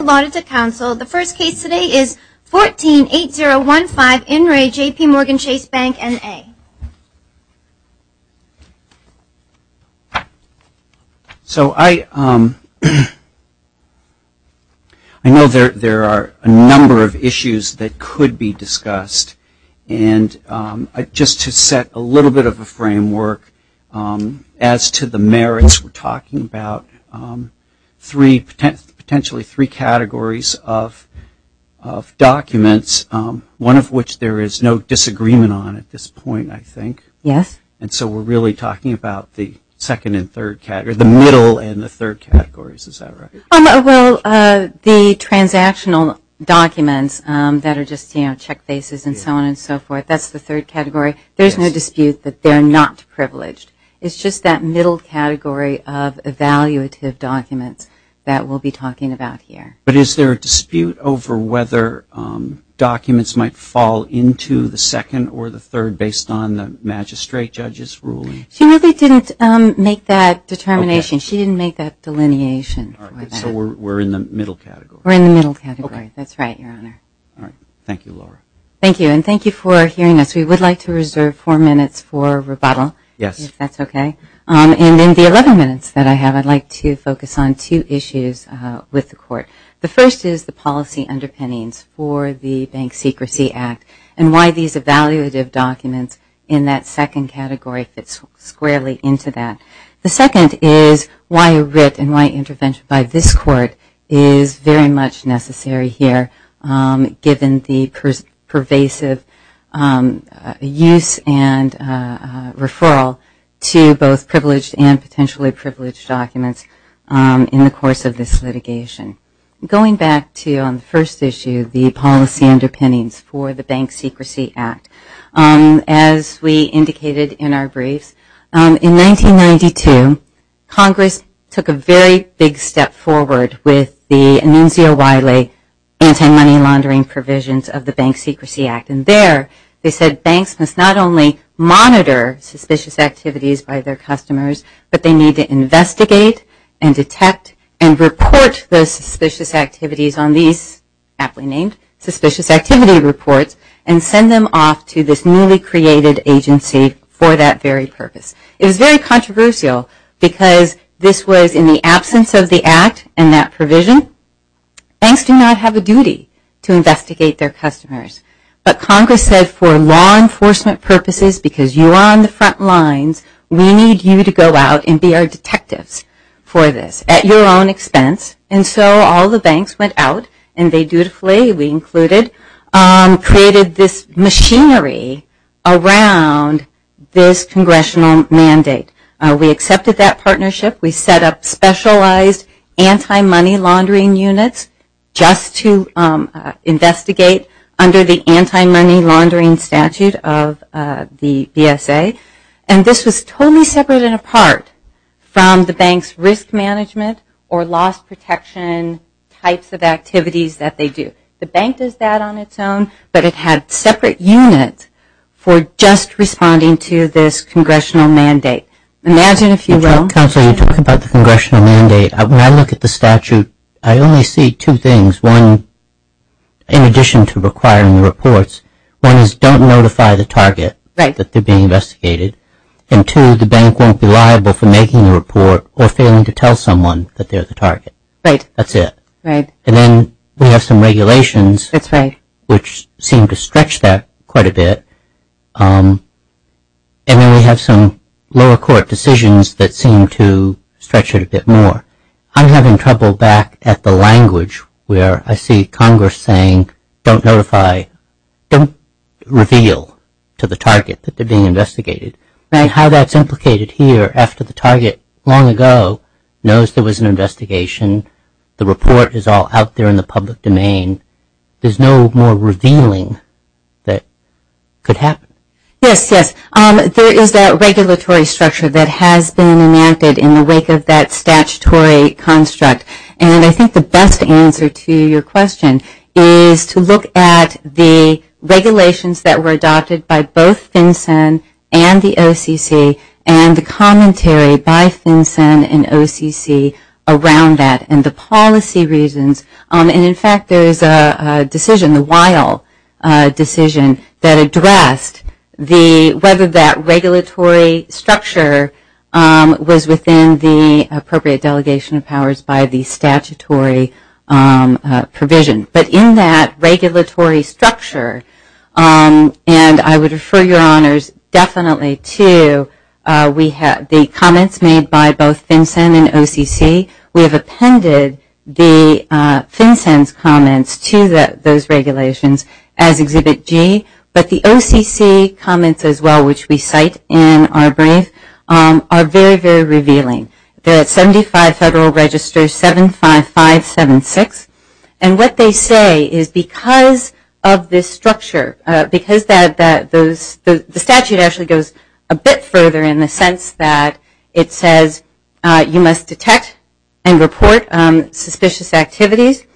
allotted to counsel. The first case today is 148015 in re. JPMorgan Chase Bank, NA. So I know there are a number of issues that could be discussed. And just to set a little bit of a framework as to the merits we're talking about, three, potentially three cases of documents, one of which there is no disagreement on at this point, I think. Yes. And so we're really talking about the middle and the third categories. Is that right? The transactional documents that are just check bases and so on and so forth, that's the third category. There's no dispute that they're not privileged. It's just that we're in the middle category of evaluative documents that we'll be talking about here. But is there a dispute over whether documents might fall into the second or the third based on the magistrate judge's ruling? She really didn't make that determination. She didn't make that delineation for that. So we're in the middle category. We're in the middle category. That's right, Your Honor. Thank you, Laura. Thank you. And thank you for hearing us. We would like to reserve four minutes for rebuttal if that's okay. And in the 11 minutes that I have, I'd like to focus on two issues with the Court. The first is the policy underpinnings for the Bank Secrecy Act and why these evaluative documents in that second category fits squarely into that. The second is why a writ and why intervention by this Court is very much necessary here given the pervasive use and referral to both privileged and potentially privileged documents in the course of this litigation. Going back to on the first issue, the policy underpinnings for the Bank Secrecy Act. As we indicated in our briefs, in 1992, Congress took a very big step forward with the Anunzio Wiley anti-money laundering provisions of the Bank Secrecy Act. And there, they said banks must not only monitor suspicious activities by their customers, but they need to investigate and detect and report those suspicious activities on these aptly named Suspicious Activity Reports and send them off to this newly created agency for that very purpose. It was very controversial because this was in the absence of the Act and that provision. Banks do not have a duty to investigate their customers. But Congress said for law enforcement purposes, because you are on the front lines, we need you to go out and be our detectives for this at your own expense. And so all the banks went out and they dutifully, we included, created this machinery around this Congressional mandate. We accepted that partnership. We set up specialized anti-money laundering units just to investigate under the anti-money laundering statute of the BSA. And this was totally separate and apart from the bank's risk management or loss protection types of activities that they do. The bank does that on its own, but it had separate units for just responding to this Congressional mandate. Imagine if you will... Counselor, you're talking about the Congressional mandate. When I look at the statute, I only see two things. One, in addition to requiring the reports, one is don't notify the target that they're being investigated. And two, the bank won't be liable for making the report or failing to tell someone that they're the target. That's it. Right. And then we have some regulations which seem to stretch that quite a bit. And then we have some lower court decisions that seem to stretch it a bit more. I'm having trouble back at the language where I see Congress saying don't notify, don't reveal to the target that they're being investigated. How that's implicated here after the target long ago knows there was an investigation, the report is all out there in the public domain, there's no more revealing that could happen. Yes, yes. There is that regulatory structure that has been enacted in the wake of that statutory construct. And I think the best answer to your question is to look at the regulations that were adopted by both FinCEN and the OCC and the commentary by FinCEN and OCC around that. And the policy reasons, and in fact there is a decision, the Weill decision that addressed the whether that regulatory structure was within the appropriate delegation of powers by the statutory provision. But in that regulatory structure, and I would refer your honors definitely to the comments made by both FinCEN and OCC, we have appended the FinCEN's comments to those regulations as Exhibit G, but the OCC comments as well, which we cite in our brief, are very, very revealing. They're at 75 Federal Register 75576. And what they say is because of this structure, because the statute actually goes a bit further in the sense that it says you must detect and report suspicious activities,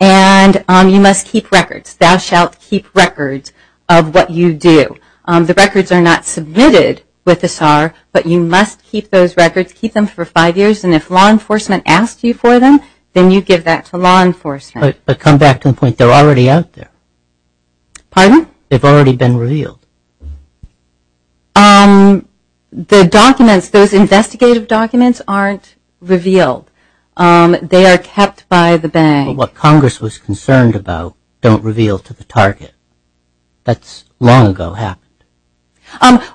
and you must keep records. Thou shalt keep records of what you do. The records are not submitted with the SAR, but you must keep those records. Keep them for five years, and if law enforcement asks you for them, then you give that to law enforcement. But come back to the point. They're already out there. Pardon? They've already been revealed. The documents, those investigative documents aren't revealed. They are kept by the bank. But what Congress was concerned about don't reveal to the target. That's long ago happened.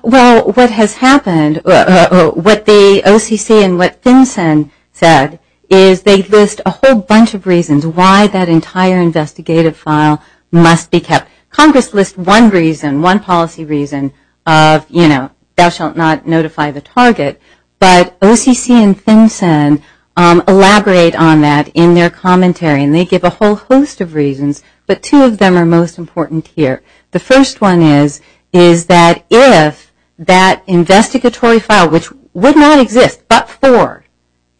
Well, what has happened, what the OCC and what FinCEN said is they list a whole bunch of reasons why that entire investigative file must be kept. Congress lists one reason, one policy reason of, you know, thou shalt not notify the target. But OCC and FinCEN elaborate on that in their commentary, and they give a whole host of reasons, but two of them are most important here. The first one is that if that investigatory file, which would not exist but for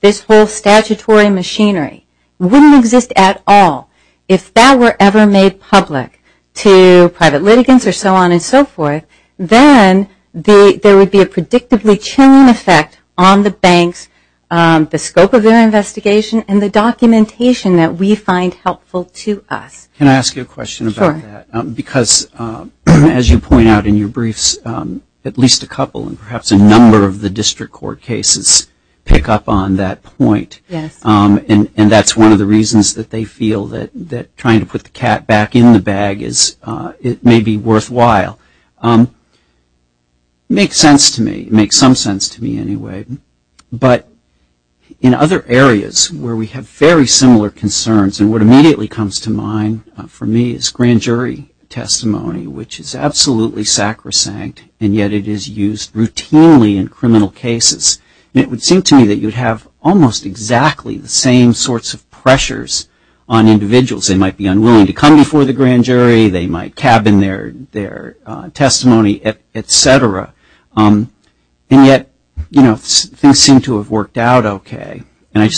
this whole statutory machinery, wouldn't exist at all. If that were ever made public to private litigants or so on and so forth, then there would be a predictably chilling effect on the banks, the scope of their investigation, and the documentation that we find helpful to us. Can I ask you a question about that? Sure. Because as you point out in your briefs, at least a couple and perhaps a number of the district court cases pick up on that point. Yes. And that's one of the reasons that they feel that trying to put the cat back in the bag may be worthwhile. It makes sense to me. It makes some sense to me anyway. But in other areas where we have very similar concerns, and what immediately comes to mind for me is grand jury testimony, which is absolutely sacrosanct, and yet it is used routinely in criminal cases. And it would seem to me that you would have almost exactly the same sorts of pressures on individuals. They might be unwilling to come before the grand jury. They might cabin their testimony, et cetera. And yet things seem to have worked out OK. And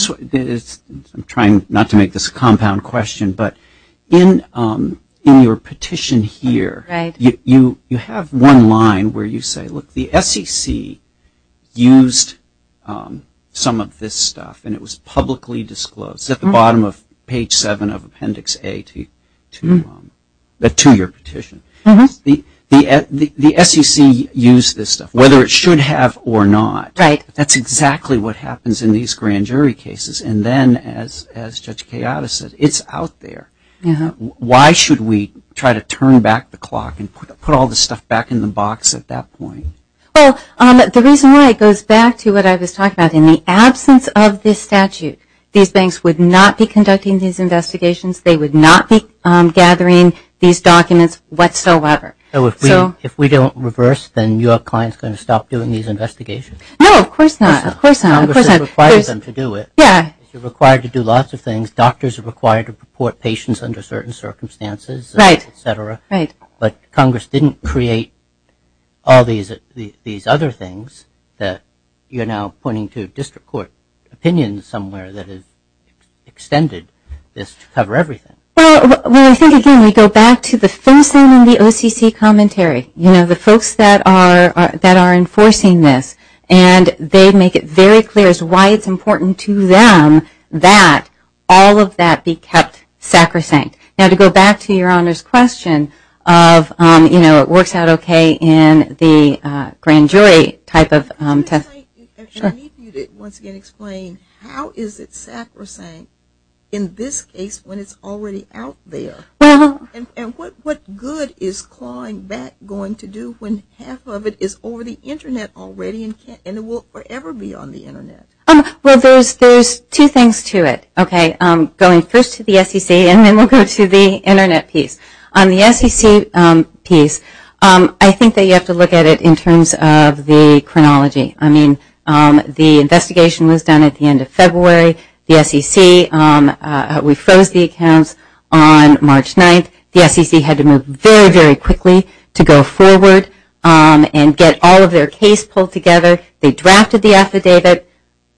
I'm trying not to make this a compound question. But in your petition here, you have one line where you say, look, the SEC used some of this stuff. And it was publicly disclosed at the bottom of page 7 of Appendix A to your petition. The SEC used this stuff, whether it should have or not. Right. That's exactly what happens in these grand jury cases. And then, as Judge Kayata said, it's out there. Why should we try to turn back the clock and put all this stuff back in the box at that point? Well, the reason why goes back to what I was talking about. In the absence of this statute, these banks would not be conducting these investigations. They would not be gathering these documents whatsoever. So if we don't reverse, then your client is going to stop doing these investigations? No, of course not. Of course not. Congress has required them to do it. Yeah. You're required to do lots of things. Doctors are required to report patients under certain circumstances, et cetera. Right. But Congress didn't create all these other things that you're now pointing to district court opinions somewhere that have extended this to cover everything. Well, I think, again, we go back to the first thing in the OCC commentary. You know, the folks that are enforcing this. And they make it very clear as to why it's important to them that all of that be kept sacrosanct. Now, to go back to your Honor's question of, you know, it works out okay in the grand jury type of test. I need you to once again explain how is it sacrosanct in this case when it's already out there? And what good is clawing back going to do when half of it is over the Internet already and it will forever be on the Internet? Well, there's two things to it. Okay. Going first to the SEC and then we'll go to the Internet piece. On the SEC piece, I think that you have to look at it in terms of the chronology. I mean, the investigation was done at the end of February. The SEC, we froze the accounts on March 9th. The SEC had to move very, very quickly to go forward and get all of their case pulled together. They drafted the affidavit. But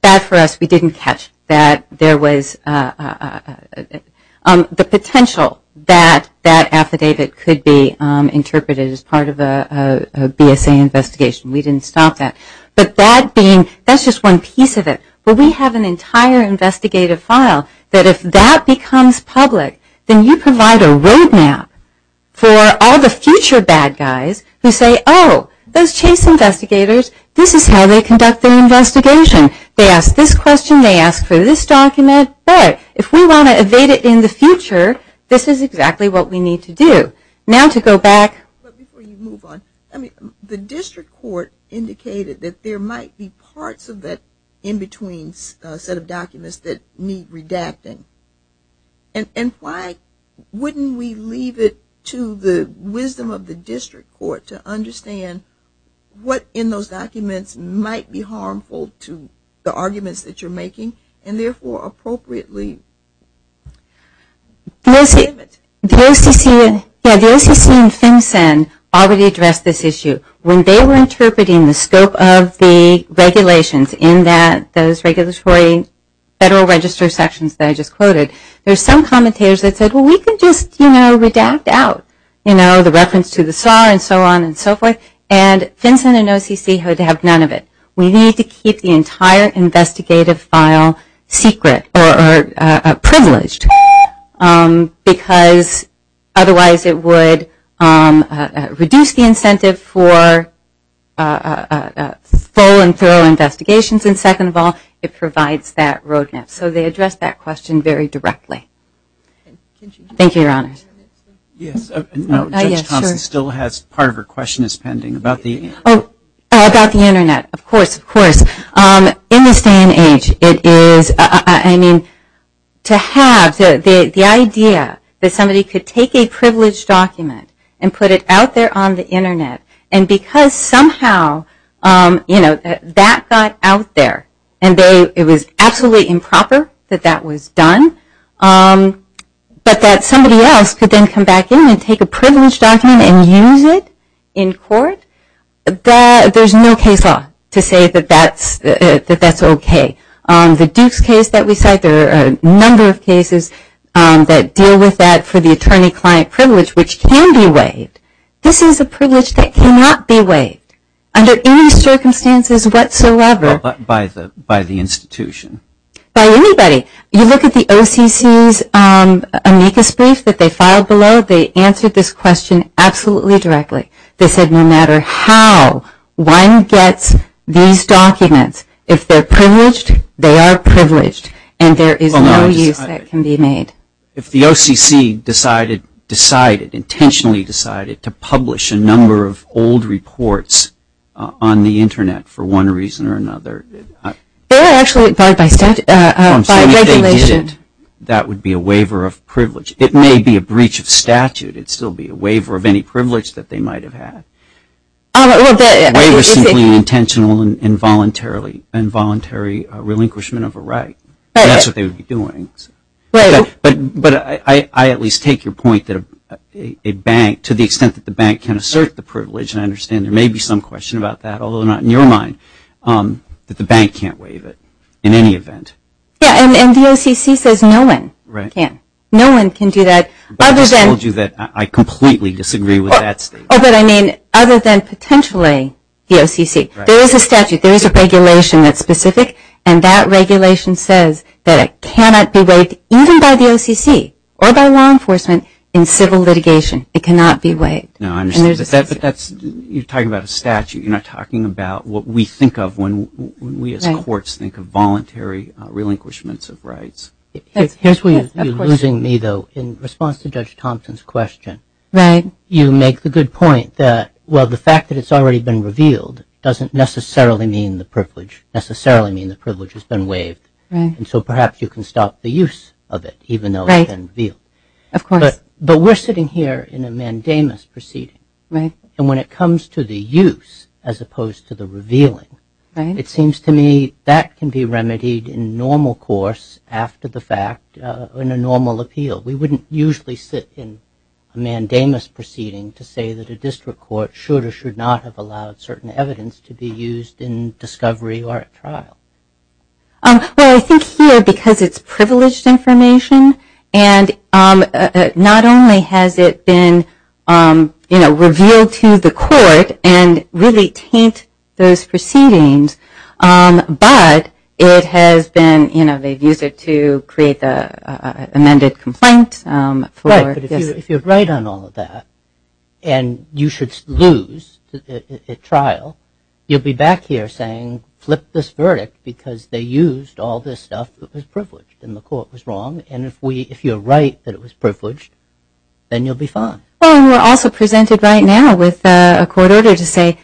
bad for us, we didn't catch that there was the potential that that affidavit could be interpreted as part of a BSA investigation. We didn't stop that. But that being, that's just one piece of it. But we have an entire investigative file that if that becomes public, then you provide a roadmap for all the future bad guys who say, oh, those chase investigators, this is how they conduct their investigation. They ask this question. They ask for this document. But if we want to evade it in the future, this is exactly what we need to do. Now to go back. But before you move on, I mean, the district court indicated that there might be parts of it in between a set of documents that need redacting. And why wouldn't we leave it to the wisdom of the district court to understand what in those documents might be harmful to the arguments that you're making and therefore appropriately limit. The OCC and FinCEN already addressed this issue. When they were interpreting the scope of the regulations in those regulatory federal register sections that I just quoted, there's some commentators that said, well, we could just, you know, redact out, you know, the reference to the SAR and so on and so forth. And FinCEN and OCC had to have none of it. We need to keep the entire investigative file secret or privileged because otherwise it would reduce the incentive for full and thorough investigations. And second of all, it provides that roadmap. So they addressed that question very directly. Thank you, Your Honor. Yes. Judge Thompson still has part of her question pending. Oh, about the Internet. Of course. Of course. In this day and age, it is, I mean, to have the idea that somebody could take a privileged document and put it out there on the Internet and because somehow, you know, that got out there and it was absolutely improper that that was done, but that somebody else could then come back in and take a privileged document and use it in court, there's no case law to say that that's okay. The Dukes case that we cite, there are a number of cases that deal with that for the attorney-client privilege, which can be waived. This is a privilege that cannot be waived under any circumstances whatsoever. By the institution. By anybody. You look at the OCC's amicus brief that they filed below, they answered this question absolutely directly. They said no matter how one gets these documents, if they're privileged, they are privileged, and there is no use that can be made. If the OCC decided, intentionally decided, to publish a number of old reports on the Internet for one reason or another, if they did, that would be a waiver of privilege. It may be a breach of statute. It would still be a waiver of any privilege that they might have had. A waiver simply intentional and involuntary relinquishment of a right. That's what they would be doing. But I at least take your point that a bank, to the extent that the bank can assert the privilege, and I understand there may be some question about that, although not in your mind, that the bank can't waive it in any event. Yeah, and the OCC says no one can. No one can do that. I just told you that I completely disagree with that statement. Oh, but I mean other than potentially the OCC. There is a statute. There is a regulation that's specific, and that regulation says that it cannot be waived, It cannot be waived. You're talking about a statute. You're not talking about what we think of when we as courts think of voluntary relinquishments of rights. Here's where you're losing me, though. In response to Judge Thompson's question, you make the good point that, well, the fact that it's already been revealed doesn't necessarily mean the privilege has been waived, and so perhaps you can stop the use of it even though it's been revealed. Of course. But we're sitting here in a mandamus proceeding, and when it comes to the use as opposed to the revealing, it seems to me that can be remedied in normal course after the fact in a normal appeal. We wouldn't usually sit in a mandamus proceeding to say that a district court should or should not have allowed certain evidence to be used in discovery or at trial. Well, I think here, because it's privileged information, and not only has it been revealed to the court and really taint those proceedings, but it has been, you know, they've used it to create the amended complaint for this. Right, but if you write on all of that and you should lose at trial, you'll be back here saying, flip this verdict because they used all this stuff that was privileged and the court was wrong, and if you're right that it was privileged, then you'll be fine. Well, we're also presented right now with a court order to say,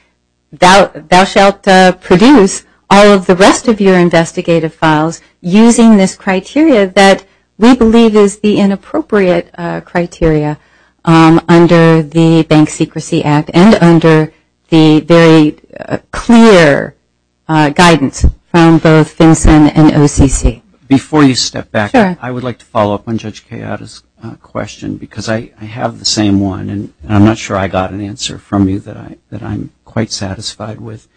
thou shalt produce all of the rest of your investigative files using this criteria that we believe is the inappropriate criteria under the Bank Secrecy Act and under the very clear guidance from both FinCEN and OCC. Before you step back, I would like to follow up on Judge Kayada's question, because I have the same one, and I'm not sure I got an answer from you that I'm quite satisfied with.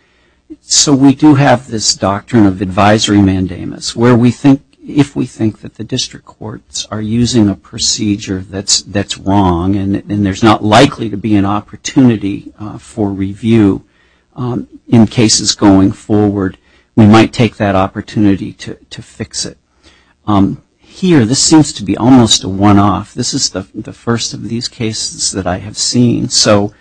So we do have this doctrine of advisory mandamus where we think, if we think that the district courts are using a procedure that's wrong and there's not likely to be an opportunity for review in cases going forward, we might take that opportunity to fix it. Here, this seems to be almost a one-off. This is the first of these cases that I have seen, so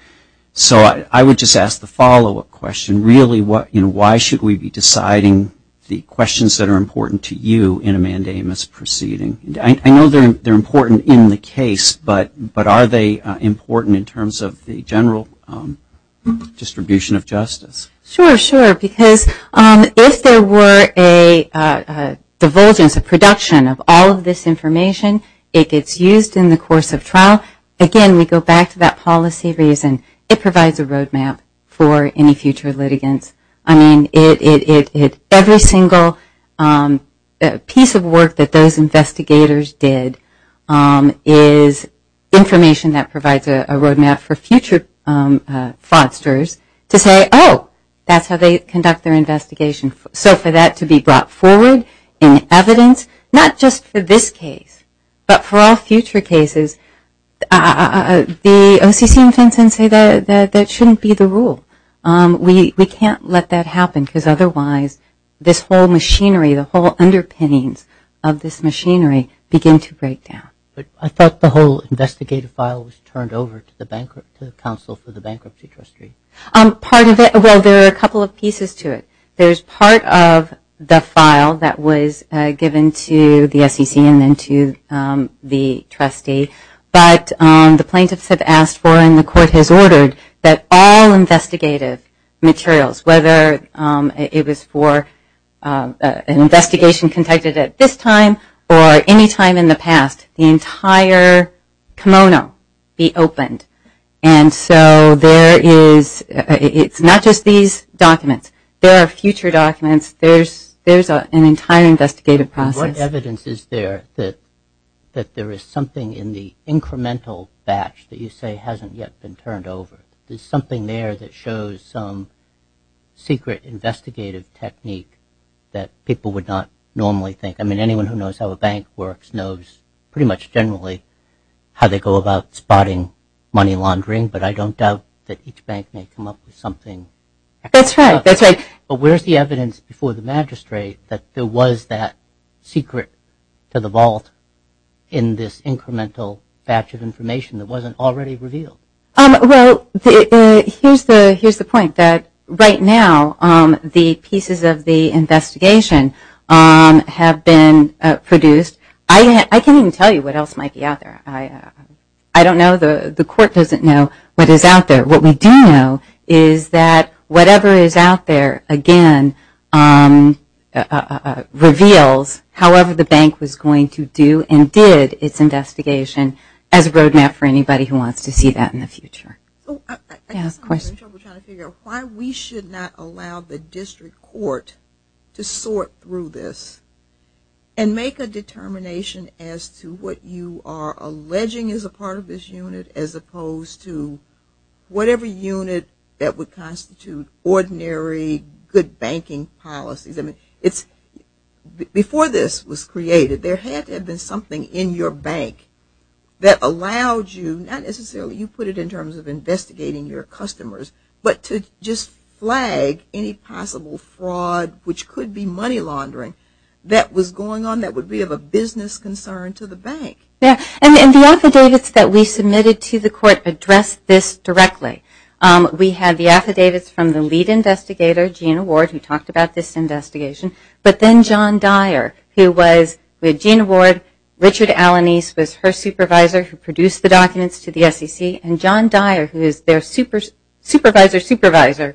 I would just ask the follow-up question. Really, why should we be deciding the questions that are important to you in a mandamus proceeding? I know they're important in the case, but are they important in terms of the general distribution of justice? Sure, sure. Because if there were a divulgence, a production of all of this information, it gets used in the course of trial. Again, we go back to that policy reason. It provides a roadmap for any future litigants. I mean, every single piece of work that those investigators did is information that provides a roadmap for future fraudsters to say, oh, that's how they conduct their investigation. So for that to be brought forward in evidence, not just for this case, but for all future cases, the OCC and Fenton say that shouldn't be the rule. We can't let that happen, because otherwise this whole machinery, the whole underpinnings of this machinery begin to break down. But I thought the whole investigative file was turned over to the Bankruptcy Council for the bankruptcy trustee. Part of it, well, there are a couple of pieces to it. There's part of the file that was given to the SEC and then to the trustee, but the plaintiffs have asked for, and the court has ordered, that all investigative materials, whether it was for an investigation conducted at this time or any time in the past, the entire kimono be opened. And so there is, it's not just these documents. There are future documents. There's an entire investigative process. What evidence is there that there is something in the incremental batch that you say hasn't yet been turned over? There's something there that shows some secret investigative technique that people would not normally think. I mean, anyone who knows how a bank works knows pretty much generally how they go about spotting money laundering, but I don't doubt that each bank may come up with something. That's right, that's right. But where's the evidence before the magistrate that there was that secret to the vault in this incremental batch of information that wasn't already revealed? Well, here's the point, that right now the pieces of the investigation have been produced. I can't even tell you what else might be out there. I don't know. The court doesn't know what is out there. What we do know is that whatever is out there, again, reveals however the bank was going to do and did its investigation as a road map for anybody who wants to see that in the future. I just have trouble trying to figure out why we should not allow the district court to sort through this and make a determination as to what you are alleging is a part of this unit as opposed to whatever unit that would constitute ordinary good banking policies. Before this was created, there had to have been something in your bank that allowed you, not necessarily you put it in terms of investigating your customers, but to just flag any possible fraud, which could be money laundering, that was going on that would be of a business concern to the bank. And the affidavits that we submitted to the court addressed this directly. We had the affidavits from the lead investigator, Gina Ward, who talked about this investigation, but then John Dyer, who was with Gina Ward, Richard Alanese was her supervisor who produced the documents to the SEC, and John Dyer, who is their supervisor's supervisor,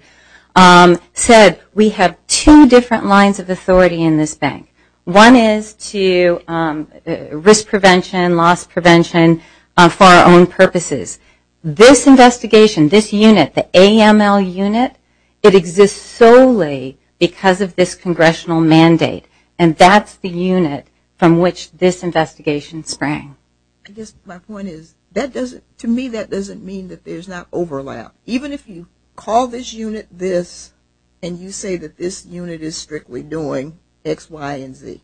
said we have two different lines of authority in this bank. One is to risk prevention, loss prevention, for our own purposes. This investigation, this unit, the AML unit, it exists solely because of this congressional mandate, and that's the unit from which this investigation sprang. My point is, to me that doesn't mean that there's not overlap. Even if you call this unit this, and you say that this unit is strictly doing X, Y, and Z,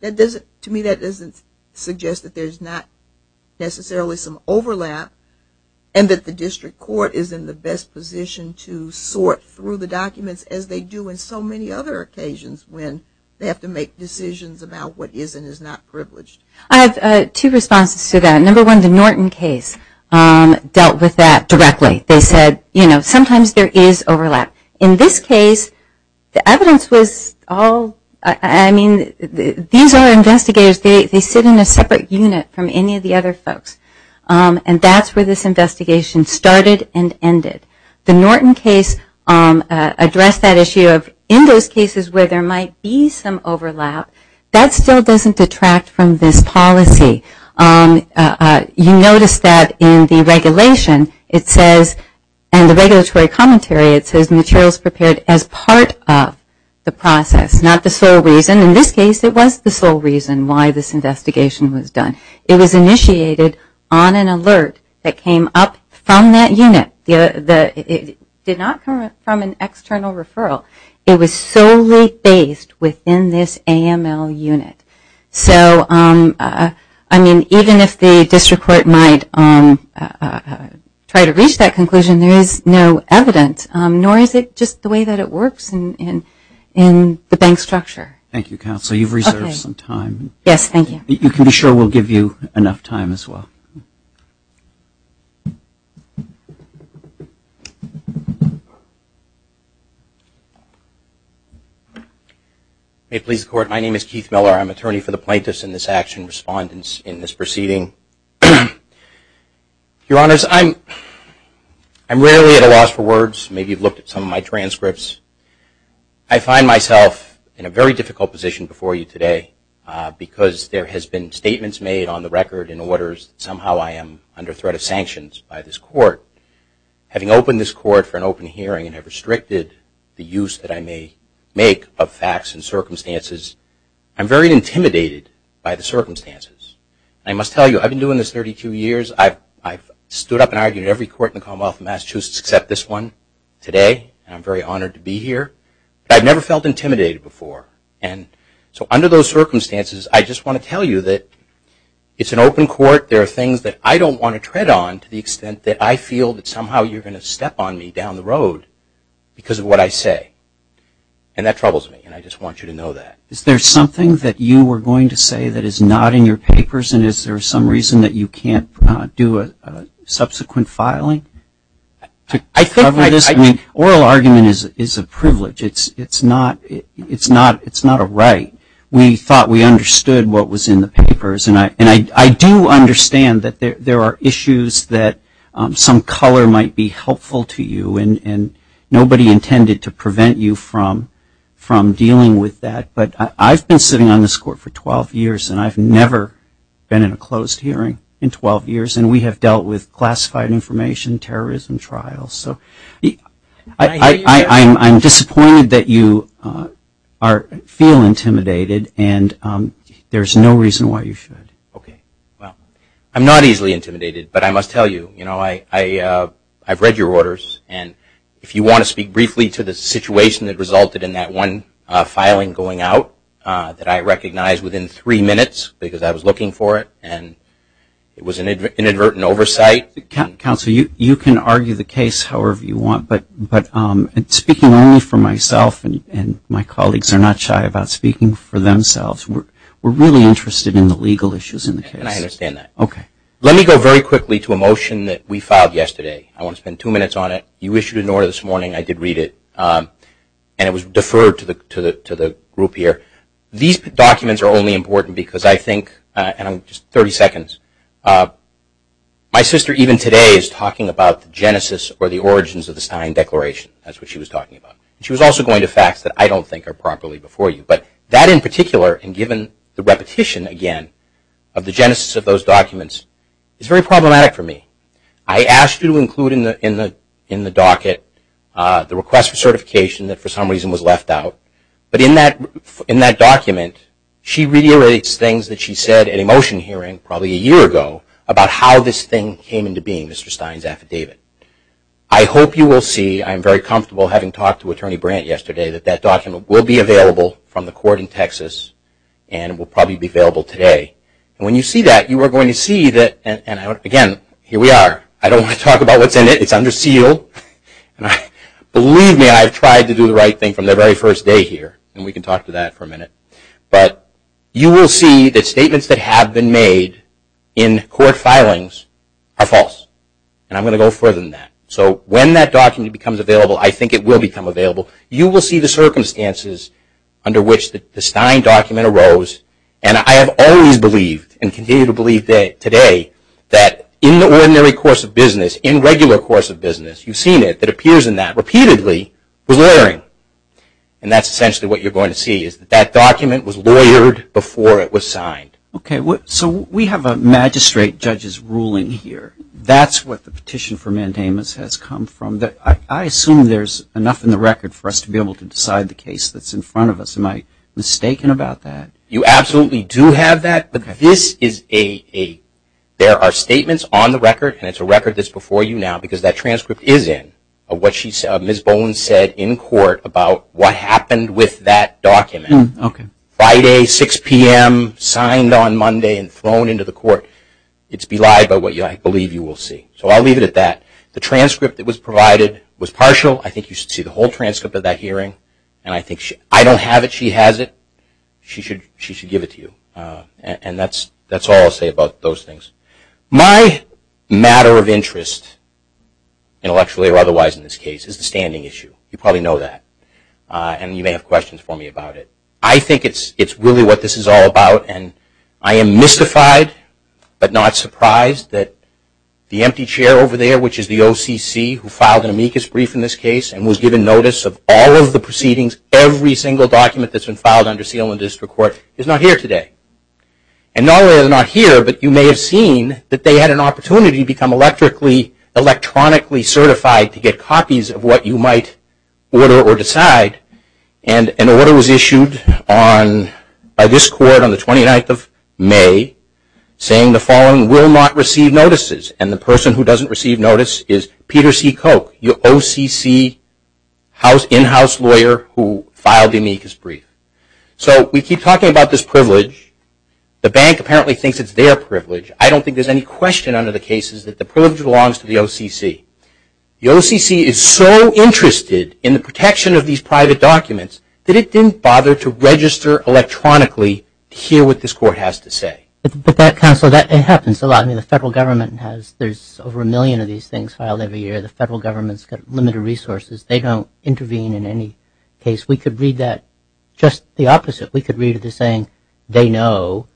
to me that doesn't suggest that there's not necessarily some overlap, and that the district court is in the best position to sort through the documents as they do in so many other occasions when they have to make decisions about what is and is not privileged. I have two responses to that. Number one, the Norton case dealt with that directly. They said, you know, sometimes there is overlap. In this case, the evidence was all, I mean, these are investigators. They sit in a separate unit from any of the other folks, and that's where this investigation started and ended. The Norton case addressed that issue of, in those cases where there might be some overlap, that still doesn't detract from this policy. You notice that in the regulation, it says, and the regulatory commentary, it says, materials prepared as part of the process, not the sole reason. In this case, it was the sole reason why this investigation was done. It was initiated on an alert that came up from that unit. It did not come from an external referral. It was solely based within this AML unit. So, I mean, even if the district court might try to reach that conclusion, there is no evidence, nor is it just the way that it works in the bank structure. Thank you, Counsel. You've reserved some time. Yes, thank you. You can be sure we'll give you enough time as well. May it please the Court. My name is Keith Miller. I'm attorney for the plaintiffs in this action, respondents in this proceeding. Your Honors, I'm rarely at a loss for words. Maybe you've looked at some of my transcripts. I find myself in a very difficult position before you today because there has been statements made on the record in orders that somehow I am under threat of sanctions by this court. Having opened this court for an open hearing and have restricted the use that I may make of facts and circumstances, I'm very intimidated by the circumstances. I must tell you, I've been doing this 32 years. I've stood up and argued in every court in the Commonwealth of Massachusetts except this one today, and I'm very honored to be here. But I've never felt intimidated before. So under those circumstances, I just want to tell you that it's an open court. There are things that I don't want to tread on to the extent that I feel that somehow you're going to step on me down the road because of what I say, and that troubles me, and I just want you to know that. Is there something that you were going to say that is not in your papers, and is there some reason that you can't do a subsequent filing to cover this? Oral argument is a privilege. It's not a right. We thought we understood what was in the papers, and I do understand that there are issues that some color might be helpful to you, and nobody intended to prevent you from dealing with that. But I've been sitting on this court for 12 years, and I've never been in a closed hearing in 12 years, and we have dealt with classified information, terrorism trials. I'm disappointed that you feel intimidated, and there's no reason why you should. Okay. Well, I'm not easily intimidated, but I must tell you, I've read your orders, and if you want to speak briefly to the situation that resulted in that one filing going out that I recognized within three minutes because I was looking for it, and it was an inadvertent oversight. Counsel, you can argue the case however you want, but speaking only for myself and my colleagues are not shy about speaking for themselves. We're really interested in the legal issues in the case. And I understand that. Okay. Let me go very quickly to a motion that we filed yesterday. I want to spend two minutes on it. You issued an order this morning. I did read it, and it was deferred to the group here. These documents are only important because I think, and I'm just 30 seconds, my sister even today is talking about the genesis or the origins of the Stein Declaration. That's what she was talking about. She was also going to facts that I don't think are properly before you. But that in particular, and given the repetition again of the genesis of those documents, is very problematic for me. I asked you to include in the docket the request for certification that for some reason was left out. But in that document, she reiterates things that she said at a motion hearing probably a year ago about how this thing came into being, Mr. Stein's affidavit. I hope you will see, I'm very comfortable having talked to Attorney Brandt yesterday, that that document will be available from the court in Texas and will probably be available today. And when you see that, you are going to see that, and again, here we are. I don't want to talk about what's in it. It's under seal. Believe me, I've tried to do the right thing from the very first day here, and we can talk to that for a minute. But you will see that statements that have been made in court filings are false. And I'm going to go further than that. So when that document becomes available, I think it will become available. You will see the circumstances under which the Stein document arose. And I have always believed and continue to believe today that in the ordinary course of business, in regular course of business, you've seen it, that appears in that repeatedly, was lawyering. And that's essentially what you're going to see, is that document was lawyered before it was signed. Okay, so we have a magistrate judge's ruling here. That's what the petition for mandamus has come from. I assume there's enough in the record for us to be able to decide the case that's in front of us. Am I mistaken about that? You absolutely do have that. But there are statements on the record, and it's a record that's before you now, because that transcript is in, of what Ms. Bowen said in court about what happened with that document. Friday, 6 p.m., signed on Monday and thrown into the court. It's belied by what I believe you will see. So I'll leave it at that. The transcript that was provided was partial. I think you should see the whole transcript of that hearing. And I don't have it. She has it. She should give it to you. And that's all I'll say about those things. My matter of interest, intellectually or otherwise in this case, is the standing issue. You probably know that. And you may have questions for me about it. I think it's really what this is all about. And I am mystified but not surprised that the empty chair over there, which is the OCC who filed an amicus brief in this case and was given notice of all of the proceedings, every single document that's been filed under seal and district court, is not here today. And not only are they not here, but you may have seen that they had an opportunity to become electronically certified to get copies of what you might order or decide. And an order was issued by this court on the 29th of May saying, the following will not receive notices. And the person who doesn't receive notice is Peter C. Koch, your OCC in-house lawyer who filed an amicus brief. So we keep talking about this privilege. The bank apparently thinks it's their privilege. I don't think there's any question under the case that the privilege belongs to the OCC. The OCC is so interested in the protection of these private documents that it didn't bother to register electronically to hear what this court has to say. But, Counselor, that happens a lot. I mean, the federal government has, there's over a million of these things filed every year. The federal government's got limited resources. They don't intervene in any case. We could read that just the opposite. We could read it as saying they know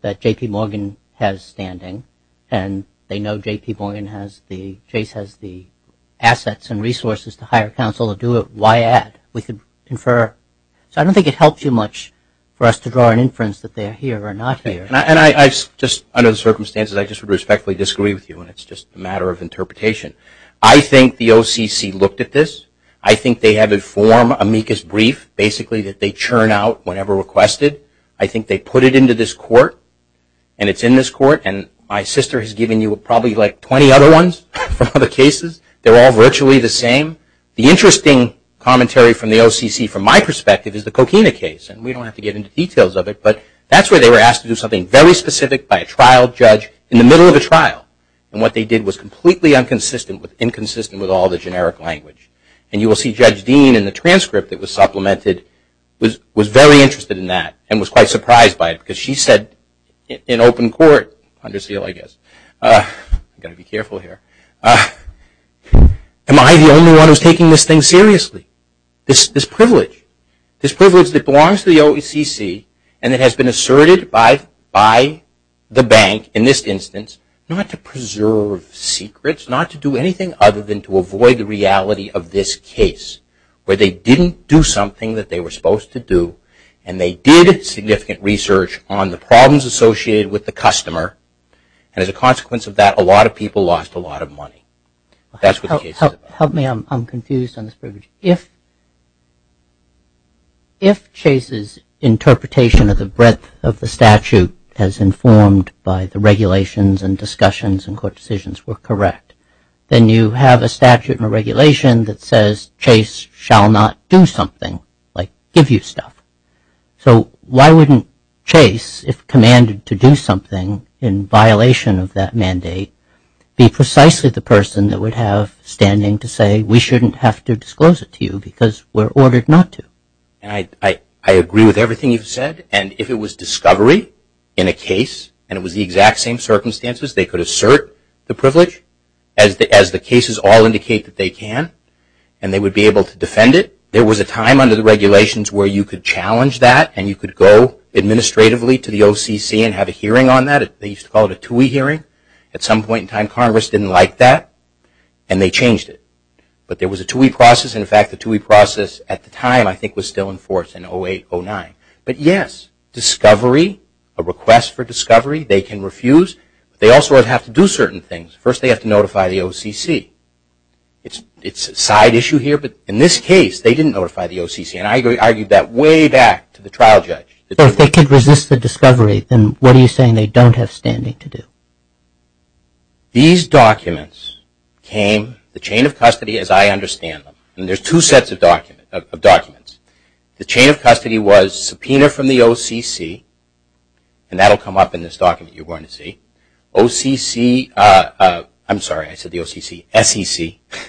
that J.P. Morgan has standing and they know J.P. Morgan has the, Chase has the assets and resources to hire counsel to do it. Why add? We could infer. So I don't think it helps you much for us to draw an inference that they're here or not here. And I just, under the circumstances, I just would respectfully disagree with you and it's just a matter of interpretation. I think the OCC looked at this. I think they have a form, amicus brief, basically that they churn out whenever requested. I think they put it into this court and it's in this court and my sister has given you probably like 20 other ones from other cases. They're all virtually the same. The interesting commentary from the OCC from my perspective is the Coquina case and we don't have to get into details of it, but that's where they were asked to do something very specific by a trial judge in the middle of a trial. And what they did was completely inconsistent with all the generic language. And you will see Judge Dean in the transcript that was supplemented was very interested in that and was quite surprised by it because she said in open court, under seal I guess, I've got to be careful here, am I the only one who's taking this thing seriously? This privilege, this privilege that belongs to the OCC and it has been asserted by the bank in this instance not to preserve secrets, not to do anything other than to avoid the reality of this case where they didn't do something that they were supposed to do and they did significant research on the problems associated with the customer and as a consequence of that a lot of people lost a lot of money. That's what the case is about. Help me, I'm confused on this privilege. If Chase's interpretation of the breadth of the statute as informed by the regulations and discussions and court decisions were correct, then you have a statute and a regulation that says Chase shall not do something, like give you stuff. So why wouldn't Chase, if commanded to do something in violation of that mandate, be precisely the person that would have standing to say we shouldn't have to disclose it to you because we're ordered not to? I agree with everything you've said and if it was discovery in a case and it was the exact same circumstances, they could assert the privilege as the cases all indicate that they can and they would be able to defend it. There was a time under the regulations where you could challenge that and you could go administratively to the OCC and have a hearing on that. They used to call it a TUI hearing. At some point in time Congress didn't like that and they changed it. But there was a TUI process and in fact the TUI process at the time I think was still in force in 08-09. But yes, discovery, a request for discovery, they can refuse. They also have to do certain things. First they have to notify the OCC. It's a side issue here, but in this case they didn't notify the OCC and I argued that way back to the trial judge. If they could resist the discovery, then what are you saying they don't have standing to do? These documents came, the chain of custody as I understand them, and there's two sets of documents. The chain of custody was subpoena from the OCC and that will come up in this document you're going to see. OCC, I'm sorry I said the OCC, SEC,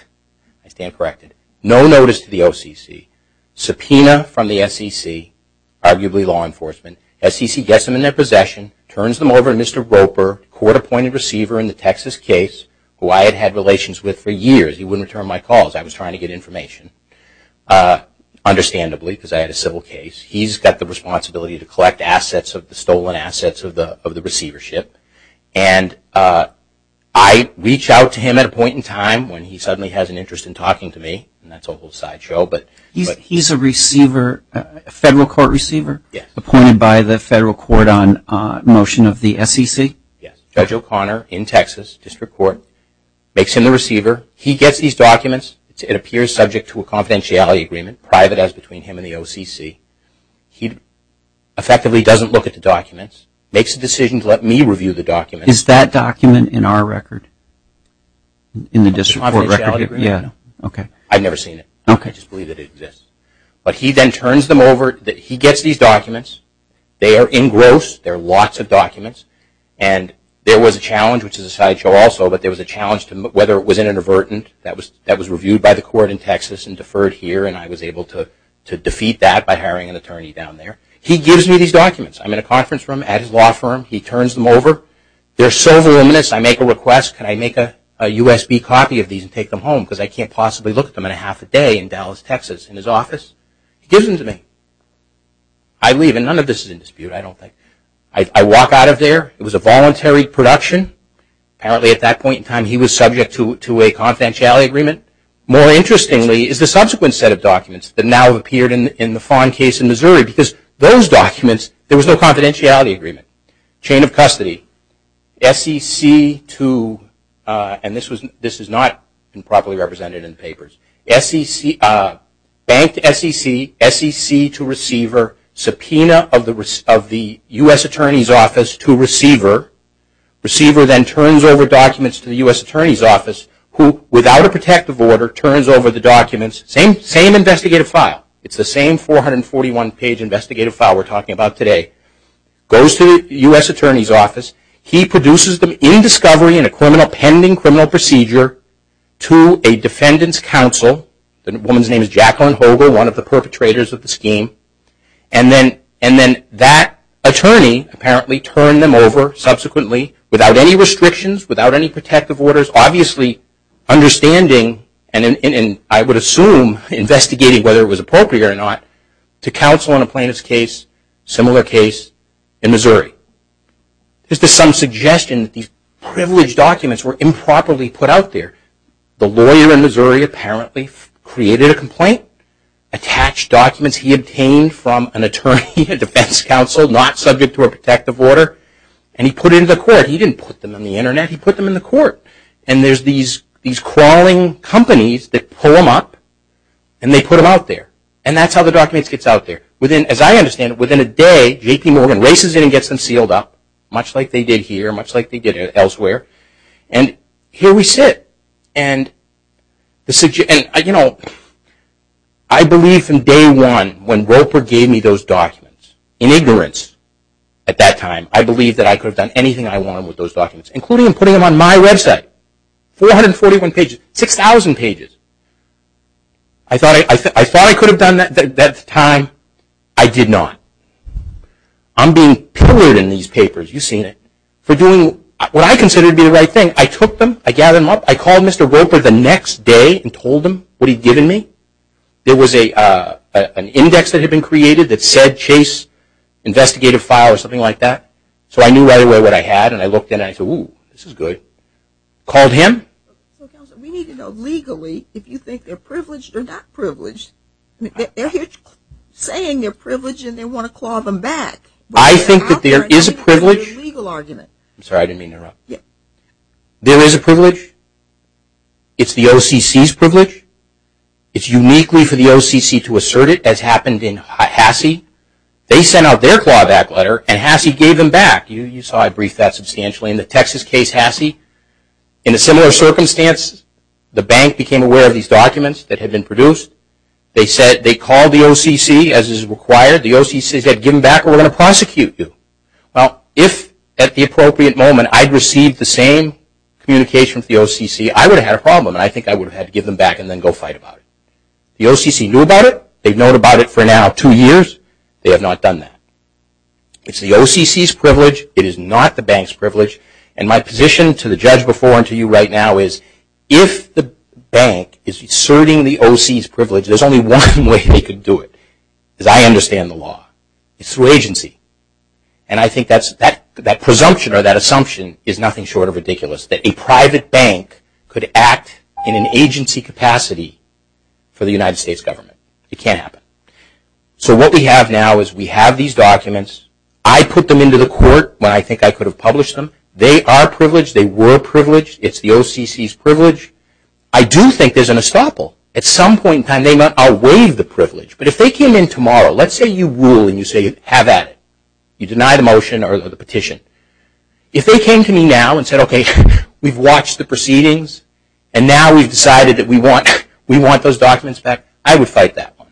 I stand corrected, no notice to the OCC, subpoena from the SEC, arguably law enforcement, SEC gets them in their possession, turns them over to Mr. Roper, court appointed receiver in the Texas case who I had had relations with for years. He wouldn't return my calls, I was trying to get information, understandably because I had a civil case. He's got the responsibility to collect assets, the stolen assets of the receivership, and I reach out to him at a point in time when he suddenly has an interest in talking to me, and that's a whole sideshow. He's a receiver, a federal court receiver? Yes. Appointed by the federal court on motion of the SEC? Yes. Judge O'Connor in Texas, District Court, makes him the receiver. He gets these documents. It appears subject to a confidentiality agreement, private as between him and the OCC. He effectively doesn't look at the documents, makes a decision to let me review the documents. Is that document in our record? In the District Court record? Yeah. Okay. I've never seen it. I just believe that it exists. But he then turns them over, he gets these documents, they are engrossed, there are lots of documents, and there was a challenge, which is a sideshow also, but there was a challenge to whether it was inadvertent, that was reviewed by the court in Texas and deferred here, and I was able to defeat that by hiring an attorney down there. He gives me these documents. I'm in a conference room at his law firm. He turns them over. They're so voluminous, I make a request, can I make a USB copy of these and take them home, because I can't possibly look at them in a half a day in Dallas, Texas, in his office. He gives them to me. I leave, and none of this is in dispute, I don't think. I walk out of there. It was a voluntary production. Apparently at that point in time he was subject to a confidentiality agreement. More interestingly is the subsequent set of documents that now have appeared in the Fond case in Missouri, because those documents there was no confidentiality agreement. Chain of custody. SEC to, and this is not properly represented in the papers, banked SEC, SEC to receiver, subpoena of the U.S. Attorney's Office to receiver. Receiver then turns over documents to the U.S. Attorney's Office, who without a protective order turns over the documents. Same investigative file. It's the same 441-page investigative file we're talking about today. Goes to the U.S. Attorney's Office. He produces them in discovery in a pending criminal procedure to a defendant's counsel. The woman's name is Jacqueline Hoger, one of the perpetrators of the scheme. And then that attorney apparently turned them over subsequently without any restrictions, without any protective orders. Obviously understanding, and I would assume investigating whether it was appropriate or not, to counsel in a plaintiff's case, similar case in Missouri. This is some suggestion that these privileged documents were improperly put out there. The lawyer in Missouri apparently created a complaint, attached documents he obtained from an attorney, a defense counsel, not subject to a protective order, and he put it in the court. He didn't put them on the Internet. He put them in the court. And there's these crawling companies that pull them up and they put them out there. And that's how the documents get out there. As I understand it, within a day, JPMorgan races in and gets them sealed up, much like they did here, much like they did elsewhere. And here we sit. I believe from day one when Roper gave me those documents, in ignorance at that time, I believed that I could have done anything I wanted with those documents, including putting them on my website, 441 pages, 6,000 pages. I thought I could have done that at the time. I did not. I'm being pillared in these papers, you've seen it, for doing what I consider to be the right thing. I took them. I gathered them up. I called Mr. Roper the next day and told him what he'd given me. There was an index that had been created that said Chase investigative file or something like that. So I knew right away what I had. And I looked at it and I said, ooh, this is good. Called him. We need to know legally if you think they're privileged or not privileged. They're here saying they're privileged and they want to claw them back. I think that there is a privilege. I'm sorry, I didn't mean to interrupt. There is a privilege. It's the OCC's privilege. It's uniquely for the OCC to assert it, as happened in Hassey. They sent out their clawback letter and Hassey gave them back. You saw I briefed that substantially. In the Texas case, Hassey, in a similar circumstance, the bank became aware of these documents that had been produced. They called the OCC, as is required. The OCC said, give them back or we're going to prosecute you. Well, if at the appropriate moment I'd received the same communication from the OCC, I would have had a problem. I think I would have had to give them back and then go fight about it. The OCC knew about it. They've known about it for now two years. They have not done that. It's the OCC's privilege. It is not the bank's privilege. And my position to the judge before and to you right now is if the bank is asserting the OCC's privilege, there's only one way they could do it. Because I understand the law. It's through agency. And I think that presumption or that assumption is nothing short of ridiculous, that a private bank could act in an agency capacity for the United States government. It can't happen. So what we have now is we have these documents. I put them into the court when I think I could have published them. They are privileged. They were privileged. It's the OCC's privilege. I do think there's an estoppel. At some point in time, they might outweigh the privilege. But if they came in tomorrow, let's say you rule and you say have at it. You deny the motion or the petition. If they came to me now and said, okay, we've watched the proceedings and now we've decided that we want those documents back, I would fight that one.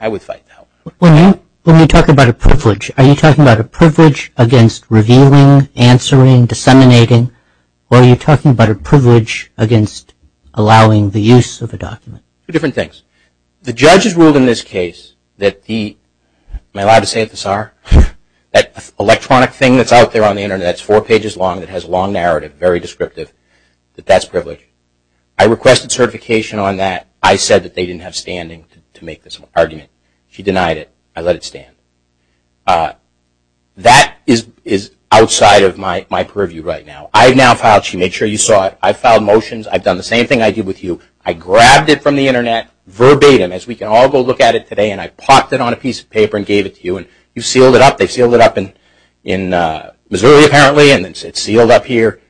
I would fight that one. When you talk about a privilege, are you talking about a privilege against revealing, answering, disseminating, or are you talking about a privilege against allowing the use of a document? Two different things. The judge has ruled in this case that the, am I allowed to say it, the SAR? That electronic thing that's out there on the Internet that's four pages long that has a long narrative, very descriptive, that that's privilege. I requested certification on that. I said that they didn't have standing to make this argument. She denied it. I let it stand. That is outside of my purview right now. I've now filed, she made sure you saw it, I've filed motions. I've done the same thing I did with you. I grabbed it from the Internet verbatim, as we can all go look at it today, and I popped it on a piece of paper and gave it to you, and you've sealed it up. They've sealed it up in Missouri apparently, and it's sealed up here.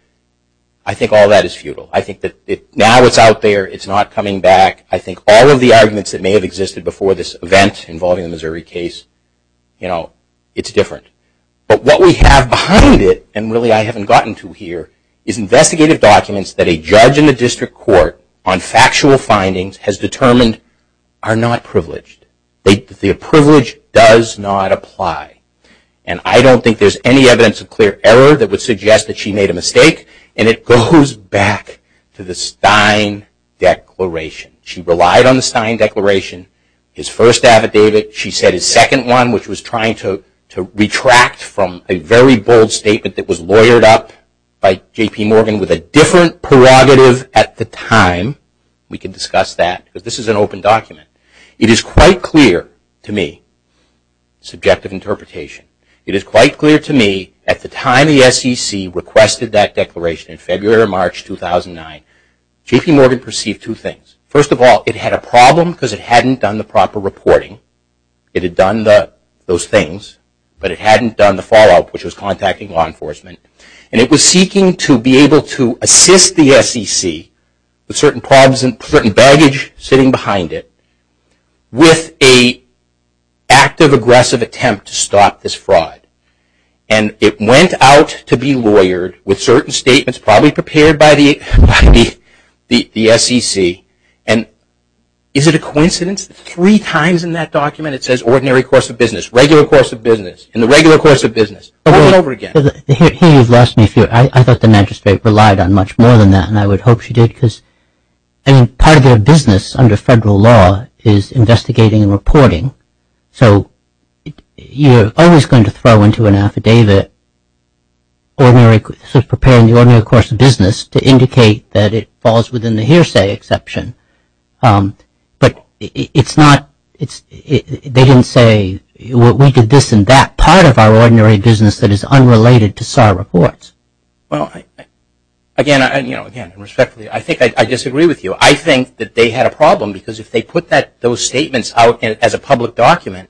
I think all that is futile. I think that now it's out there. It's not coming back. I think all of the arguments that may have existed before this event involving the Missouri case, it's different. But what we have behind it, and really I haven't gotten to here, is investigative documents that a judge in the district court on factual findings has determined are not privileged. The privilege does not apply. And I don't think there's any evidence of clear error that would suggest that she made a mistake, and it goes back to the Stein Declaration. She relied on the Stein Declaration, his first affidavit. She said his second one, which was trying to retract from a very bold statement that was lawyered up by J.P. Morgan with a different prerogative at the time. We can discuss that because this is an open document. It is quite clear to me, subjective interpretation, it is quite clear to me at the time the SEC requested that declaration, in February or March 2009, J.P. Morgan perceived two things. First of all, it had a problem because it hadn't done the proper reporting. It had done those things, but it hadn't done the follow-up, which was contacting law enforcement. And it was seeking to be able to assist the SEC with certain baggage sitting behind it with an active, aggressive attempt to stop this fraud. And it went out to be lawyered with certain statements probably prepared by the SEC. And is it a coincidence that three times in that document it says ordinary course of business, regular course of business, and the regular course of business, over and over again? Here you've lost me. I thought the magistrate relied on much more than that, and I would hope she did, because part of their business under federal law is investigating and reporting. So you're always going to throw into an affidavit preparing the ordinary course of business to indicate that it falls within the hearsay exception. But it's not, they didn't say we did this and that. Part of our ordinary business that is unrelated to SAR reports. Well, again, respectfully, I disagree with you. I think that they had a problem, because if they put those statements out as a public document,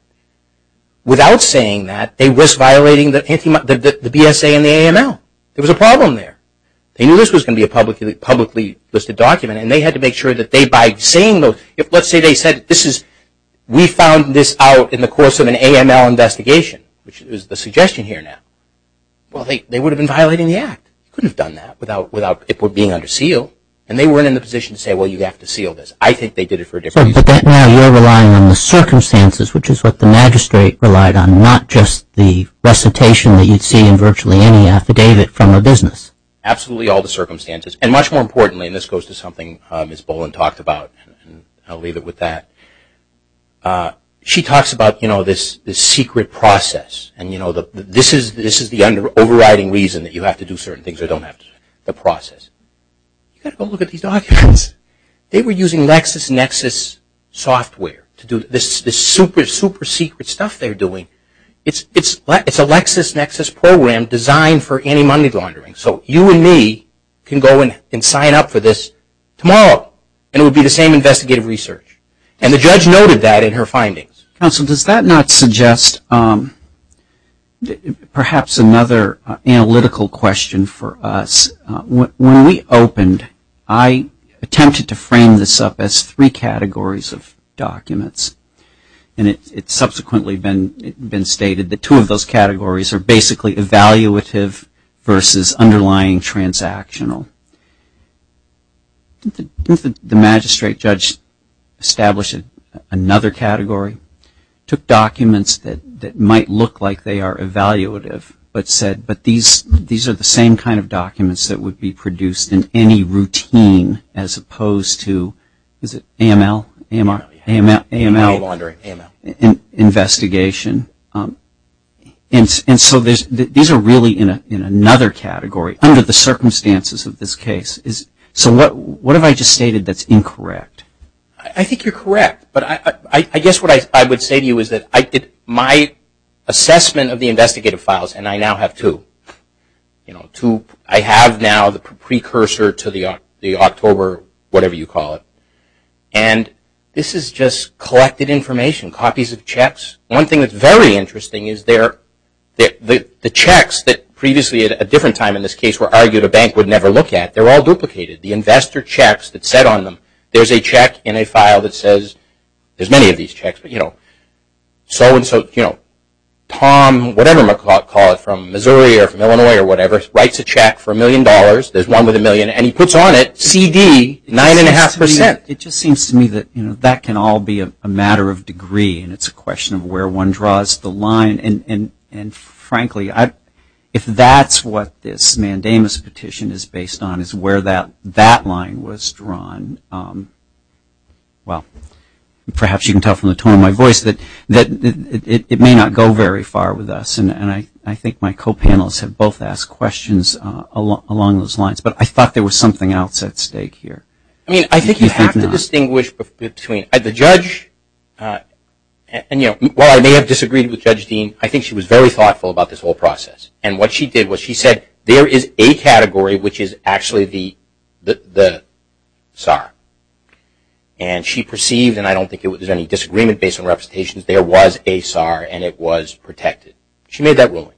without saying that, they risk violating the BSA and the AML. There was a problem there. They knew this was going to be a publicly listed document, and they had to make sure that by saying those, let's say they said we found this out in the course of an AML investigation, which is the suggestion here now. Well, they would have been violating the act. They couldn't have done that without it being under seal. And they weren't in the position to say, well, you have to seal this. I think they did it for a different reason. But now you're relying on the circumstances, which is what the magistrate relied on, not just the recitation that you'd see in virtually any affidavit from a business. Absolutely all the circumstances, and much more importantly, and this goes to something Ms. Boland talked about, and I'll leave it with that. She talks about this secret process, and this is the overriding reason that you have to do certain things or don't have to do certain things, the process. You've got to go look at these documents. They were using LexisNexis software to do this super, super secret stuff they're doing. It's a LexisNexis program designed for anti-money laundering. So you and me can go and sign up for this tomorrow, and it will be the same investigative research. And the judge noted that in her findings. Counsel, does that not suggest perhaps another analytical question for us? When we opened, I attempted to frame this up as three categories of documents, and it's subsequently been stated that two of those categories are basically evaluative versus underlying transactional. Didn't the magistrate judge establish another category? Took documents that might look like they are evaluative, but said, but these are the same kind of documents that would be produced in any routine, as opposed to, is it AML? AML. AML. AML. Money laundering. AML. Investigation. And so these are really in another category under the circumstances of this case. So what have I just stated that's incorrect? I think you're correct. But I guess what I would say to you is that my assessment of the investigative files, and I now have two. I have now the precursor to the October whatever you call it. And this is just collected information, copies of checks. One thing that's very interesting is the checks that previously, at a different time in this case, were argued a bank would never look at, they're all duplicated. The investor checks that said on them, there's a check in a file that says, there's many of these checks, but you know, so and so, you know, Tom, whatever you call it, from Missouri or from Illinois or whatever, writes a check for a million dollars. There's one with a million, and he puts on it, CD, nine and a half percent. It just seems to me that, you know, that can all be a matter of degree, and it's a question of where one draws the line. And frankly, if that's what this mandamus petition is based on is where that line was drawn, well, perhaps you can tell from the tone of my voice that it may not go very far with us. And I think my co-panelists have both asked questions along those lines. But I thought there was something else at stake here. I mean, I think you have to distinguish between the judge, and, you know, while I may have disagreed with Judge Dean, I think she was very thoughtful about this whole process. And what she did was she said, there is a category which is actually the SAR. And she perceived, and I don't think there was any disagreement based on representations, there was a SAR, and it was protected. She made that ruling.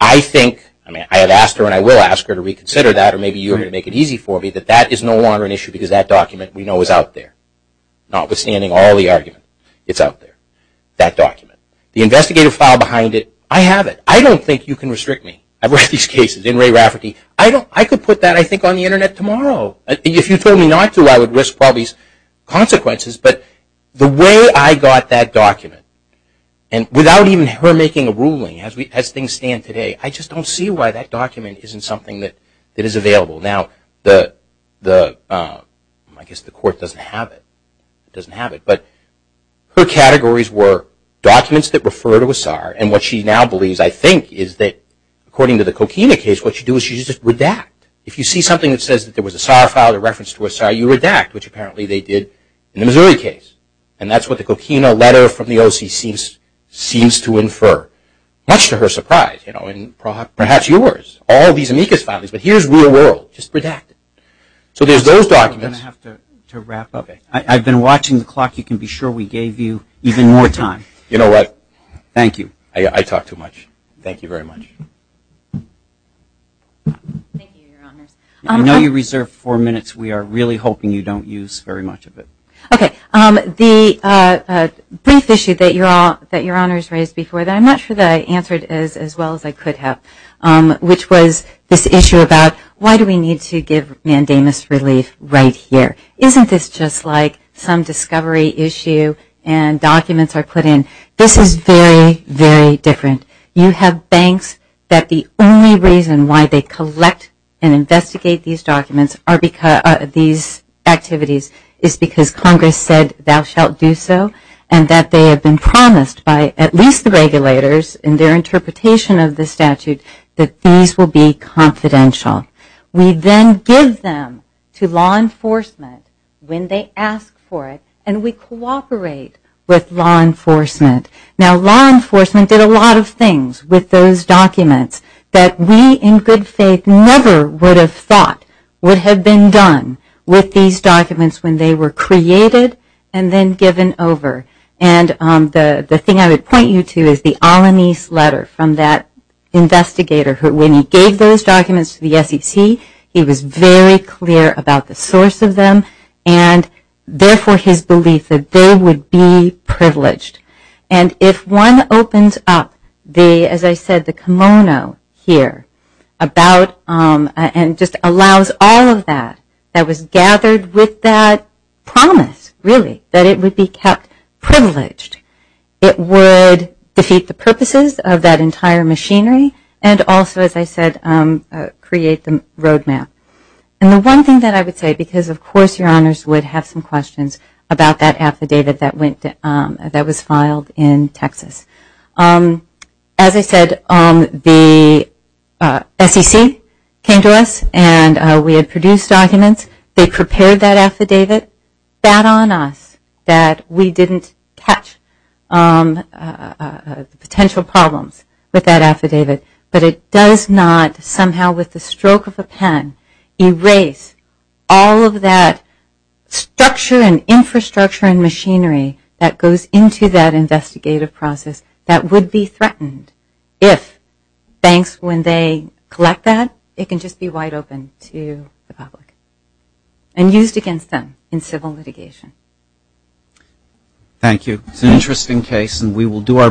I think, I mean, I have asked her, and I will ask her to reconsider that, or maybe you're going to make it easy for me, that that is no longer an issue because that document, we know, is out there. Notwithstanding all the argument, it's out there, that document. The investigative file behind it, I have it. I don't think you can restrict me. I've read these cases in Ray Rafferty. I could put that, I think, on the Internet tomorrow. If you told me not to, I would risk all these consequences. But the way I got that document, and without even her making a ruling, as things stand today, I just don't see why that document isn't something that is available. Now, I guess the court doesn't have it. It doesn't have it. But her categories were documents that refer to a SAR, and what she now believes, I think, is that according to the Coquina case, what you do is you just redact. If you see something that says that there was a SAR file, a reference to a SAR, you redact, which apparently they did in the Missouri case. And that's what the Coquina letter from the OCC seems to infer, much to her surprise. And perhaps yours, all these amicus filings, but here's real world, just redacted. So there's those documents. I'm going to have to wrap up. I've been watching the clock. You can be sure we gave you even more time. You know what? Thank you. I talk too much. Thank you very much. Thank you, Your Honors. I know you reserved four minutes. We are really hoping you don't use very much of it. Okay. The brief issue that Your Honors raised before that I'm not sure that I answered as well as I could have, which was this issue about why do we need to give mandamus relief right here? Isn't this just like some discovery issue and documents are put in? This is very, very different. You have banks that the only reason why they collect and investigate these documents, these activities, is because Congress said thou shalt do so and that they have been promised by at least the regulators in their interpretation of the statute that these will be confidential. We then give them to law enforcement when they ask for it, and we cooperate with law enforcement. Now, law enforcement did a lot of things with those documents that we in good faith never would have thought would have been done with these documents when they were created and then given over. And the thing I would point you to is the Alanis letter from that investigator who, when he gave those documents to the SEC, he was very clear about the source of them and therefore his belief that they would be privileged. And if one opens up the, as I said, the kimono here about and just allows all of that, that was gathered with that promise, really, that it would be kept privileged, it would defeat the purposes of that entire machinery and also, as I said, create the roadmap. And the one thing that I would say, because of course your honors would have some questions about that affidavit that was filed in Texas. As I said, the SEC came to us and we had produced documents. They prepared that affidavit. That on us that we didn't catch potential problems with that affidavit, but it does not somehow with the stroke of a pen erase all of that structure and infrastructure and machinery that goes into that investigative process that would be threatened if banks, when they collect that, it can just be wide open to the public and used against them in civil litigation. Thank you. It's an interesting case and we will do our best.